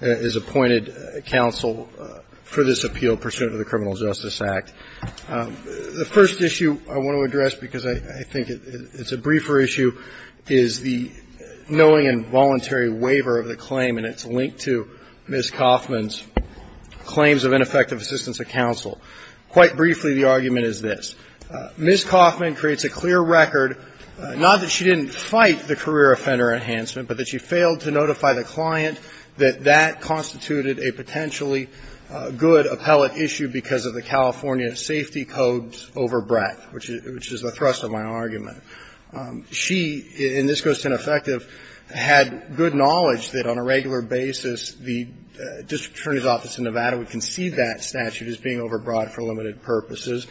is appointed counsel for this appeal pursuant to the Criminal Justice Act. The first issue I want to address, because I think it's a briefer issue, is the knowing and voluntary waiver of the claim, and it's linked to Ms. Kaufman's claims of ineffective assistance of counsel. Quite briefly, the argument is this. Ms. Kaufman creates a clear record, not that she didn't fight the career offender enhancement, but that she failed to notify the client that that constituted a potentially good appellate issue because of the California safety codes overbreadth, which is the thrust of my argument. She, and this goes to ineffective, had good knowledge that on a regular basis, the district attorney's office in Nevada would concede that statute as being overbroad for limited purposes,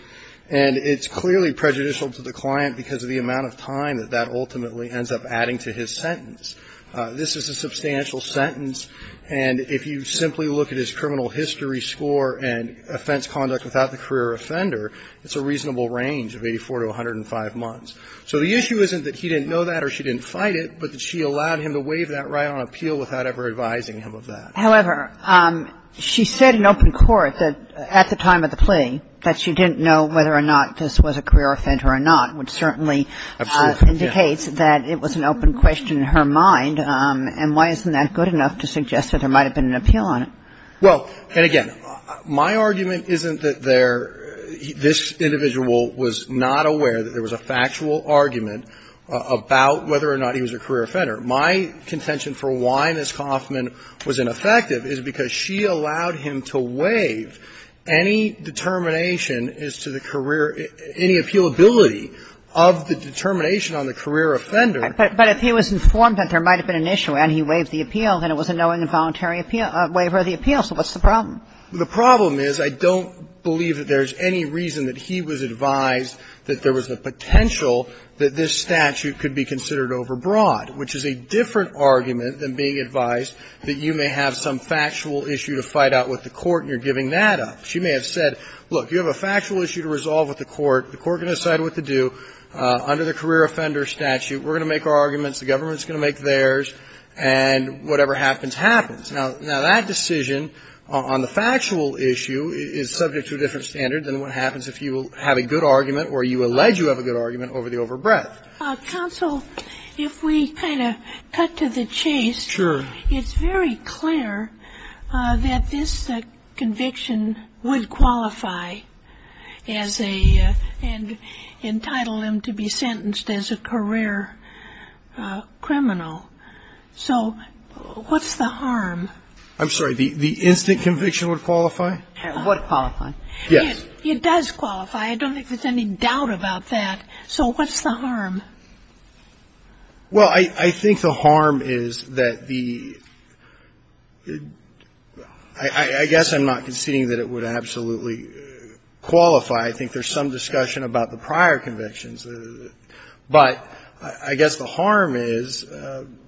and it's clearly prejudicial to the client because of the amount of time that that ultimately ends up adding to his sentence. This is a substantial sentence, and if you simply look at his criminal history score and offense conduct without the career offender, it's a reasonable range of 84 to 105 months. So the issue isn't that he didn't know that or she didn't fight it, but that she allowed him to waive that right on appeal without ever advising him of that. However, she said in open court that, at the time of the plea, that she didn't know whether or not this was a career offender or not, which certainly indicates that it was an open question in her mind. And why isn't that good enough to suggest that there might have been an appeal on it? Well, and again, my argument isn't that there – this individual was not aware that there was a factual argument about whether or not he was a career offender. My contention for why Ms. Coffman was ineffective is because she allowed him to waive any determination as to the career – any appealability of the determination on the career offender. But if he was informed that there might have been an issue and he waived the appeal, then it was a knowing and voluntary appeal – waiver of the appeal. So what's the problem? The problem is I don't believe that there's any reason that he was advised that there was a potential that this statute could be considered overbroad, which is a different argument than being advised that you may have some factual issue to fight out with the court and you're giving that up. She may have said, look, you have a factual issue to resolve with the court. The court can decide what to do. Under the career offender statute, we're going to make our arguments, the government is going to make theirs, and whatever happens, happens. Now, that decision on the factual issue is subject to a different standard than what you have a good argument over the overbreadth. Counsel, if we kind of cut to the chase, it's very clear that this conviction would qualify as a – and entitle him to be sentenced as a career criminal. So what's the harm? I'm sorry. The instant conviction would qualify? Would qualify. Yes. It does qualify. I don't think there's any doubt about that. So what's the harm? Well, I think the harm is that the – I guess I'm not conceding that it would absolutely qualify. I think there's some discussion about the prior convictions. But I guess the harm is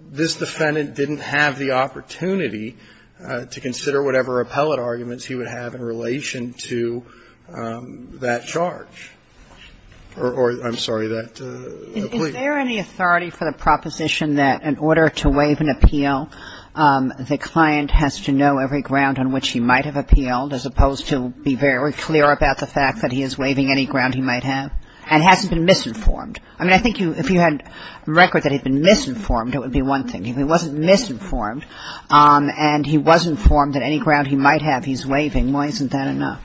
this defendant didn't have the opportunity to consider whatever appellate arguments he would have in relation to that charge. Or, I'm sorry, that plea. Is there any authority for the proposition that in order to waive an appeal, the client has to know every ground on which he might have appealed as opposed to be very clear about the fact that he is waiving any ground he might have? And hasn't been misinformed. I mean, I think if you had record that he'd been misinformed, it would be one thing. If he wasn't misinformed and he was informed that any ground he might have he's waiving, why isn't that enough?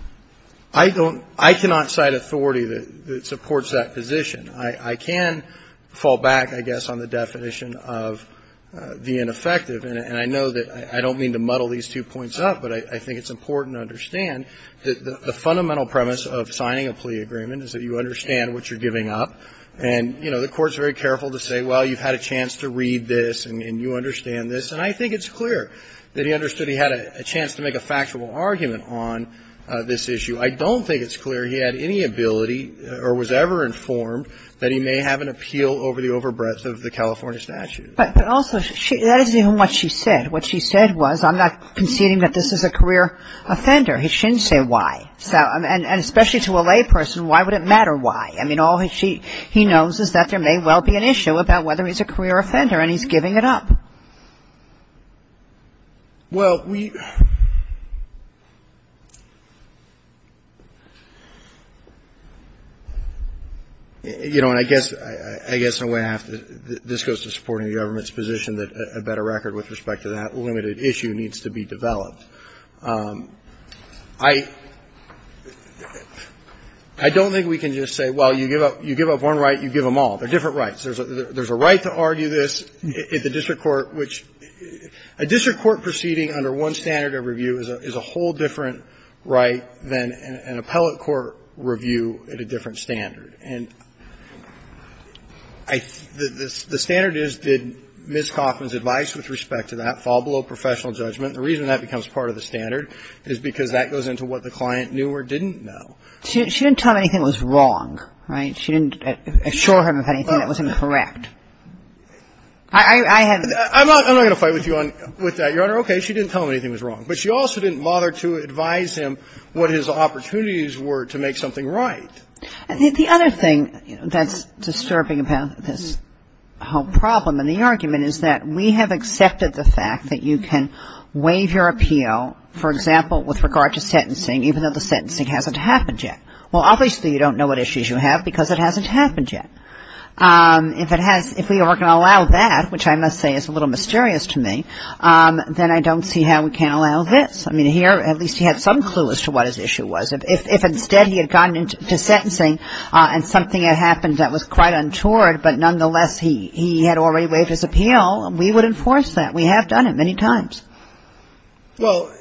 I don't – I cannot cite authority that supports that position. I can fall back, I guess, on the definition of the ineffective. And I know that I don't mean to muddle these two points up, but I think it's important to understand that the fundamental premise of signing a plea agreement is that you understand what you're giving up. And, you know, the Court's very careful to say, well, you've had a chance to read this and you understand this. And I think it's clear that he understood he had a chance to make a factual argument on this issue. I don't think it's clear he had any ability or was ever informed that he may have an appeal over the overbreadth of the California statute. But also, that isn't even what she said. What she said was, I'm not conceding that this is a career offender. He shouldn't say why. And especially to a layperson, why would it matter why? I mean, all he knows is that there may well be an issue about whether he's a career offender, and he's giving it up. Well, we – you know, and I guess in a way I have to – this goes to supporting the government's position that a better record with respect to that limited issue needs to be developed. I don't think we can just say, well, you give up one right, you give them all. They're different rights. There's a right to argue this at the district court, which a district court proceeding under one standard of review is a whole different right than an appellate court review at a different standard. And the standard is, did Ms. Kaufman's advice with respect to that fall below professional judgment? The reason that becomes part of the standard is because that goes into what the client knew or didn't know. She didn't tell him anything was wrong, right? She didn't assure him of anything that was incorrect. I have – I'm not going to fight with you on – with that, Your Honor. Okay. She didn't tell him anything was wrong. But she also didn't bother to advise him what his opportunities were to make something right. I think the other thing that's disturbing about this whole problem and the argument is that we have accepted the fact that you can waive your appeal, for example, with regard to sentencing, even though the sentencing hasn't happened yet. Well, obviously you don't know what issues you have because it hasn't happened yet. If it has – if we are going to allow that, which I must say is a little mysterious to me, then I don't see how we can't allow this. I mean, here at least he had some clue as to what his issue was. If instead he had gotten into sentencing and something had happened that was quite untoward, but nonetheless he had already waived his appeal, we would enforce that. We have done it many times. Well,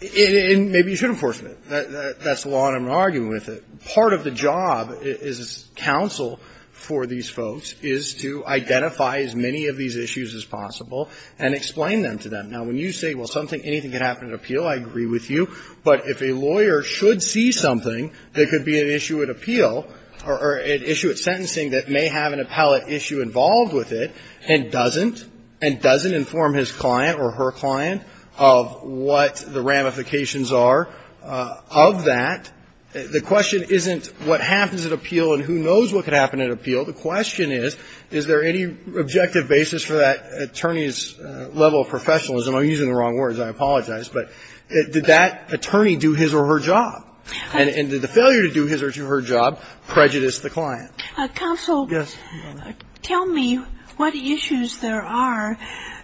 maybe you should enforce it. That's the law and I'm not arguing with it. Part of the job as counsel for these folks is to identify as many of these issues as possible and explain them to them. Now, when you say, well, something – anything can happen at appeal, I agree with you. But if a lawyer should see something that could be an issue at appeal or an issue at sentencing that may have an appellate issue involved with it and doesn't, and doesn't inform his client or her client of what the ramifications are of that, the question isn't what happens at appeal and who knows what could happen at appeal. The question is, is there any objective basis for that attorney's level of professionalism? I'm using the wrong words. I apologize. But did that attorney do his or her job? And did the failure to do his or her job prejudice the client? Counsel. Yes, Your Honor. Tell me what issues there are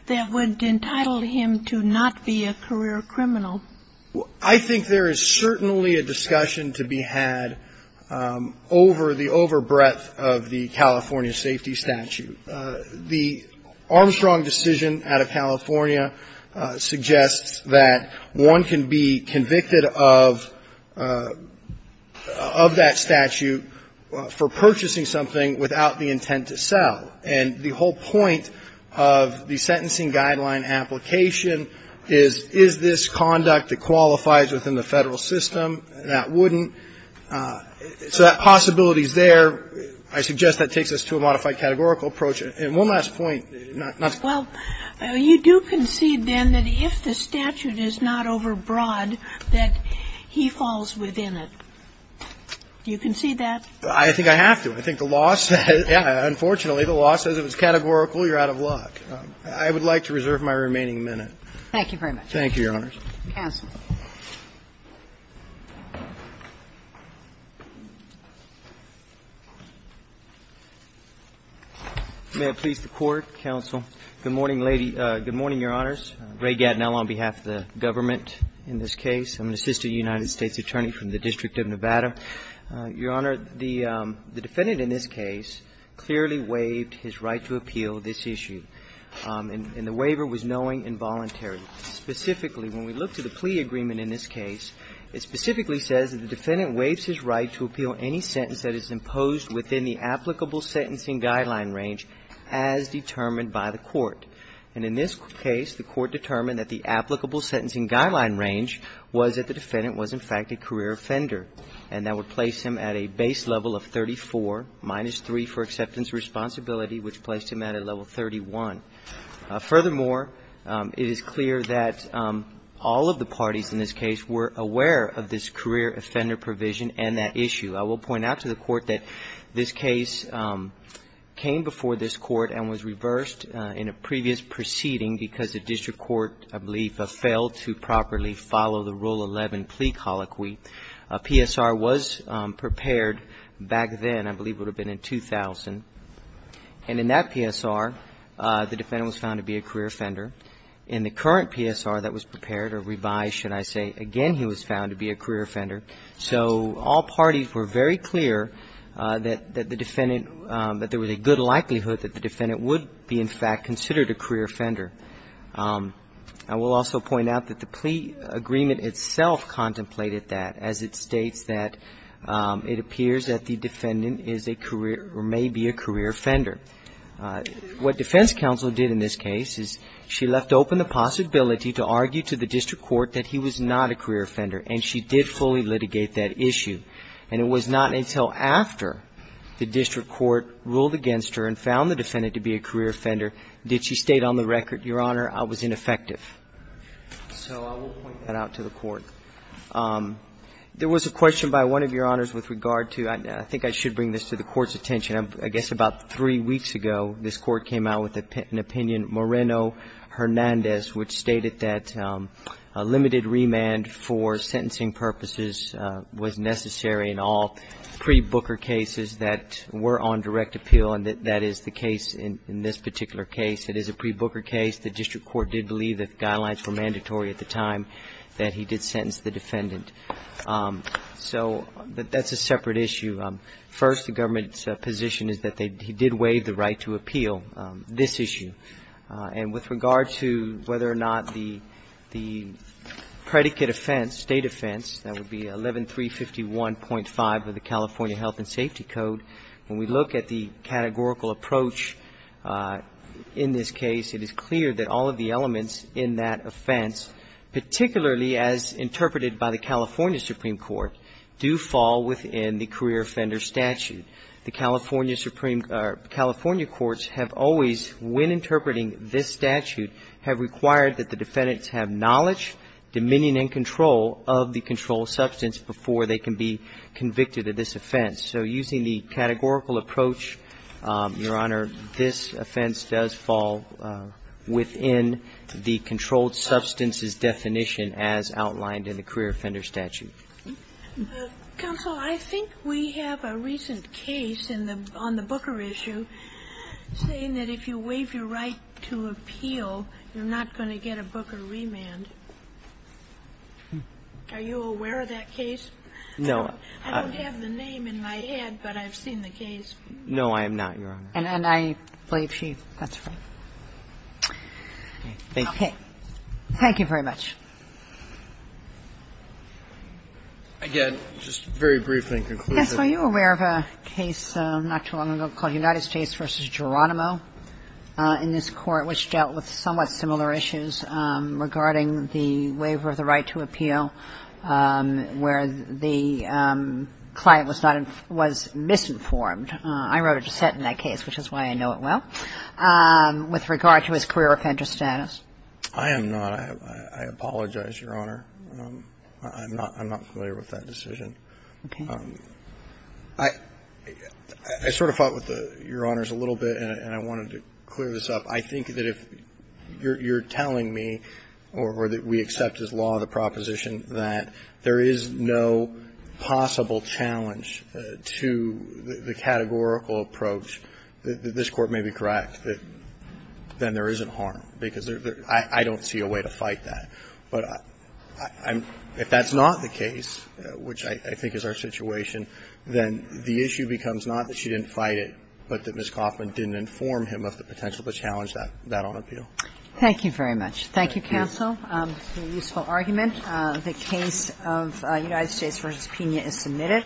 that would entitle him to not be a career criminal. I think there is certainly a discussion to be had over the overbreadth of the California safety statute. The Armstrong decision out of California suggests that one can be convicted of that statute for purchasing something without the intent to sell. And the whole point of the sentencing guideline application is, is this conduct that qualifies within the Federal system? That wouldn't. So that possibility is there. I suggest that takes us to a modified categorical approach. And one last point. Well, you do concede, then, that if the statute is not overbroad, that he falls within it. Do you concede that? I think I have to. I think the law says, yeah, unfortunately, the law says if it's categorical, you're out of luck. I would like to reserve my remaining minute. Thank you very much. Thank you, Your Honors. Counsel. May it please the Court, counsel. Good morning, lady. Good morning, Your Honors. Ray Gatineau on behalf of the government in this case. I'm an assistant United States attorney from the District of Nevada. Your Honor, the defendant in this case clearly waived his right to appeal this issue. And the waiver was knowing and voluntary. Specifically, when we look to the plea agreement in this case, it specifically says that the defendant waives his right to appeal any sentence that is imposed within the applicable sentencing guideline range as determined by the court. And in this case, the court determined that the applicable sentencing guideline range was that the defendant was, in fact, a career offender. And that would place him at a base level of 34, minus 3 for acceptance of responsibility, which placed him at a level 31. Furthermore, it is clear that all of the parties in this case were aware of this career offender provision and that issue. I will point out to the court that this case came before this court and was reversed in a previous proceeding because the district court, I believe, failed to properly follow the Rule 11 plea colloquy. A PSR was prepared back then. I believe it would have been in 2000. And in that PSR, the defendant was found to be a career offender. In the current PSR that was prepared or revised, should I say, again he was found to be a career offender. So all parties were very clear that the defendant, that there was a good likelihood that the defendant would be, in fact, considered a career offender. I will also point out that the plea agreement itself contemplated that, as it states that it appears that the defendant is a career or may be a career offender. What defense counsel did in this case is she left open the possibility to argue to the district court that he was not a career offender. And she did fully litigate that issue. And it was not until after the district court ruled against her and found the defendant to be a career offender did she state on the record, Your Honor, I was ineffective. So I will point that out to the court. There was a question by one of Your Honors with regard to, I think I should bring this to the Court's attention. I guess about three weeks ago, this Court came out with an opinion, Moreno-Hernandez, which stated that a limited remand for sentencing purposes was necessary in all pre-Booker cases that were on direct appeal, and that is the case in this particular case. It is a pre-Booker case. The district court did believe that guidelines were mandatory at the time that he did sentence the defendant. So that's a separate issue. First, the government's position is that he did waive the right to appeal this issue. And with regard to whether or not the predicate offense, state offense, that would be 11351.5 of the California Health and Safety Code, when we look at the categorical approach in this case, it is clear that all of the elements in that offense, particularly as interpreted by the California Supreme Court, do fall within the career offender statute. The California Supreme or California courts have always, when interpreting this statute, have required that the defendants have knowledge, dominion and control of the controlled substance before they can be convicted of this offense. So using the categorical approach, Your Honor, this offense does fall within the controlled substance's definition as outlined in the career offender statute. Counsel, I think we have a recent case on the Booker issue saying that if you waive your right to appeal, you're not going to get a Booker remand. Are you aware of that case? No. I don't have the name in my head, but I've seen the case. No, I am not, Your Honor. And I believe she has. Okay. Thank you. Thank you very much. Again, just very briefly in conclusion. Yes. Were you aware of a case not too long ago called United States v. Geronimo in this Court which dealt with somewhat similar issues regarding the waiver of the right to appeal where the client was misinformed? I wrote a dissent in that case, which is why I know it well, with regard to his career offender status. I am not. I apologize, Your Honor. I'm not familiar with that decision. Okay. I sort of fought with Your Honors a little bit, and I wanted to clear this up. I think that if you're telling me or that we accept as law the proposition that there is no possible challenge to the categorical approach, that this Court may be correct, that then there isn't harm, because I don't see a way to fight that. But if that's not the case, which I think is our situation, then the issue becomes not that you didn't fight it, but that Ms. Coffman didn't inform him of the potential to challenge that on appeal. Thank you very much. Thank you, counsel. It's a useful argument. The case of United States v. Pena is submitted.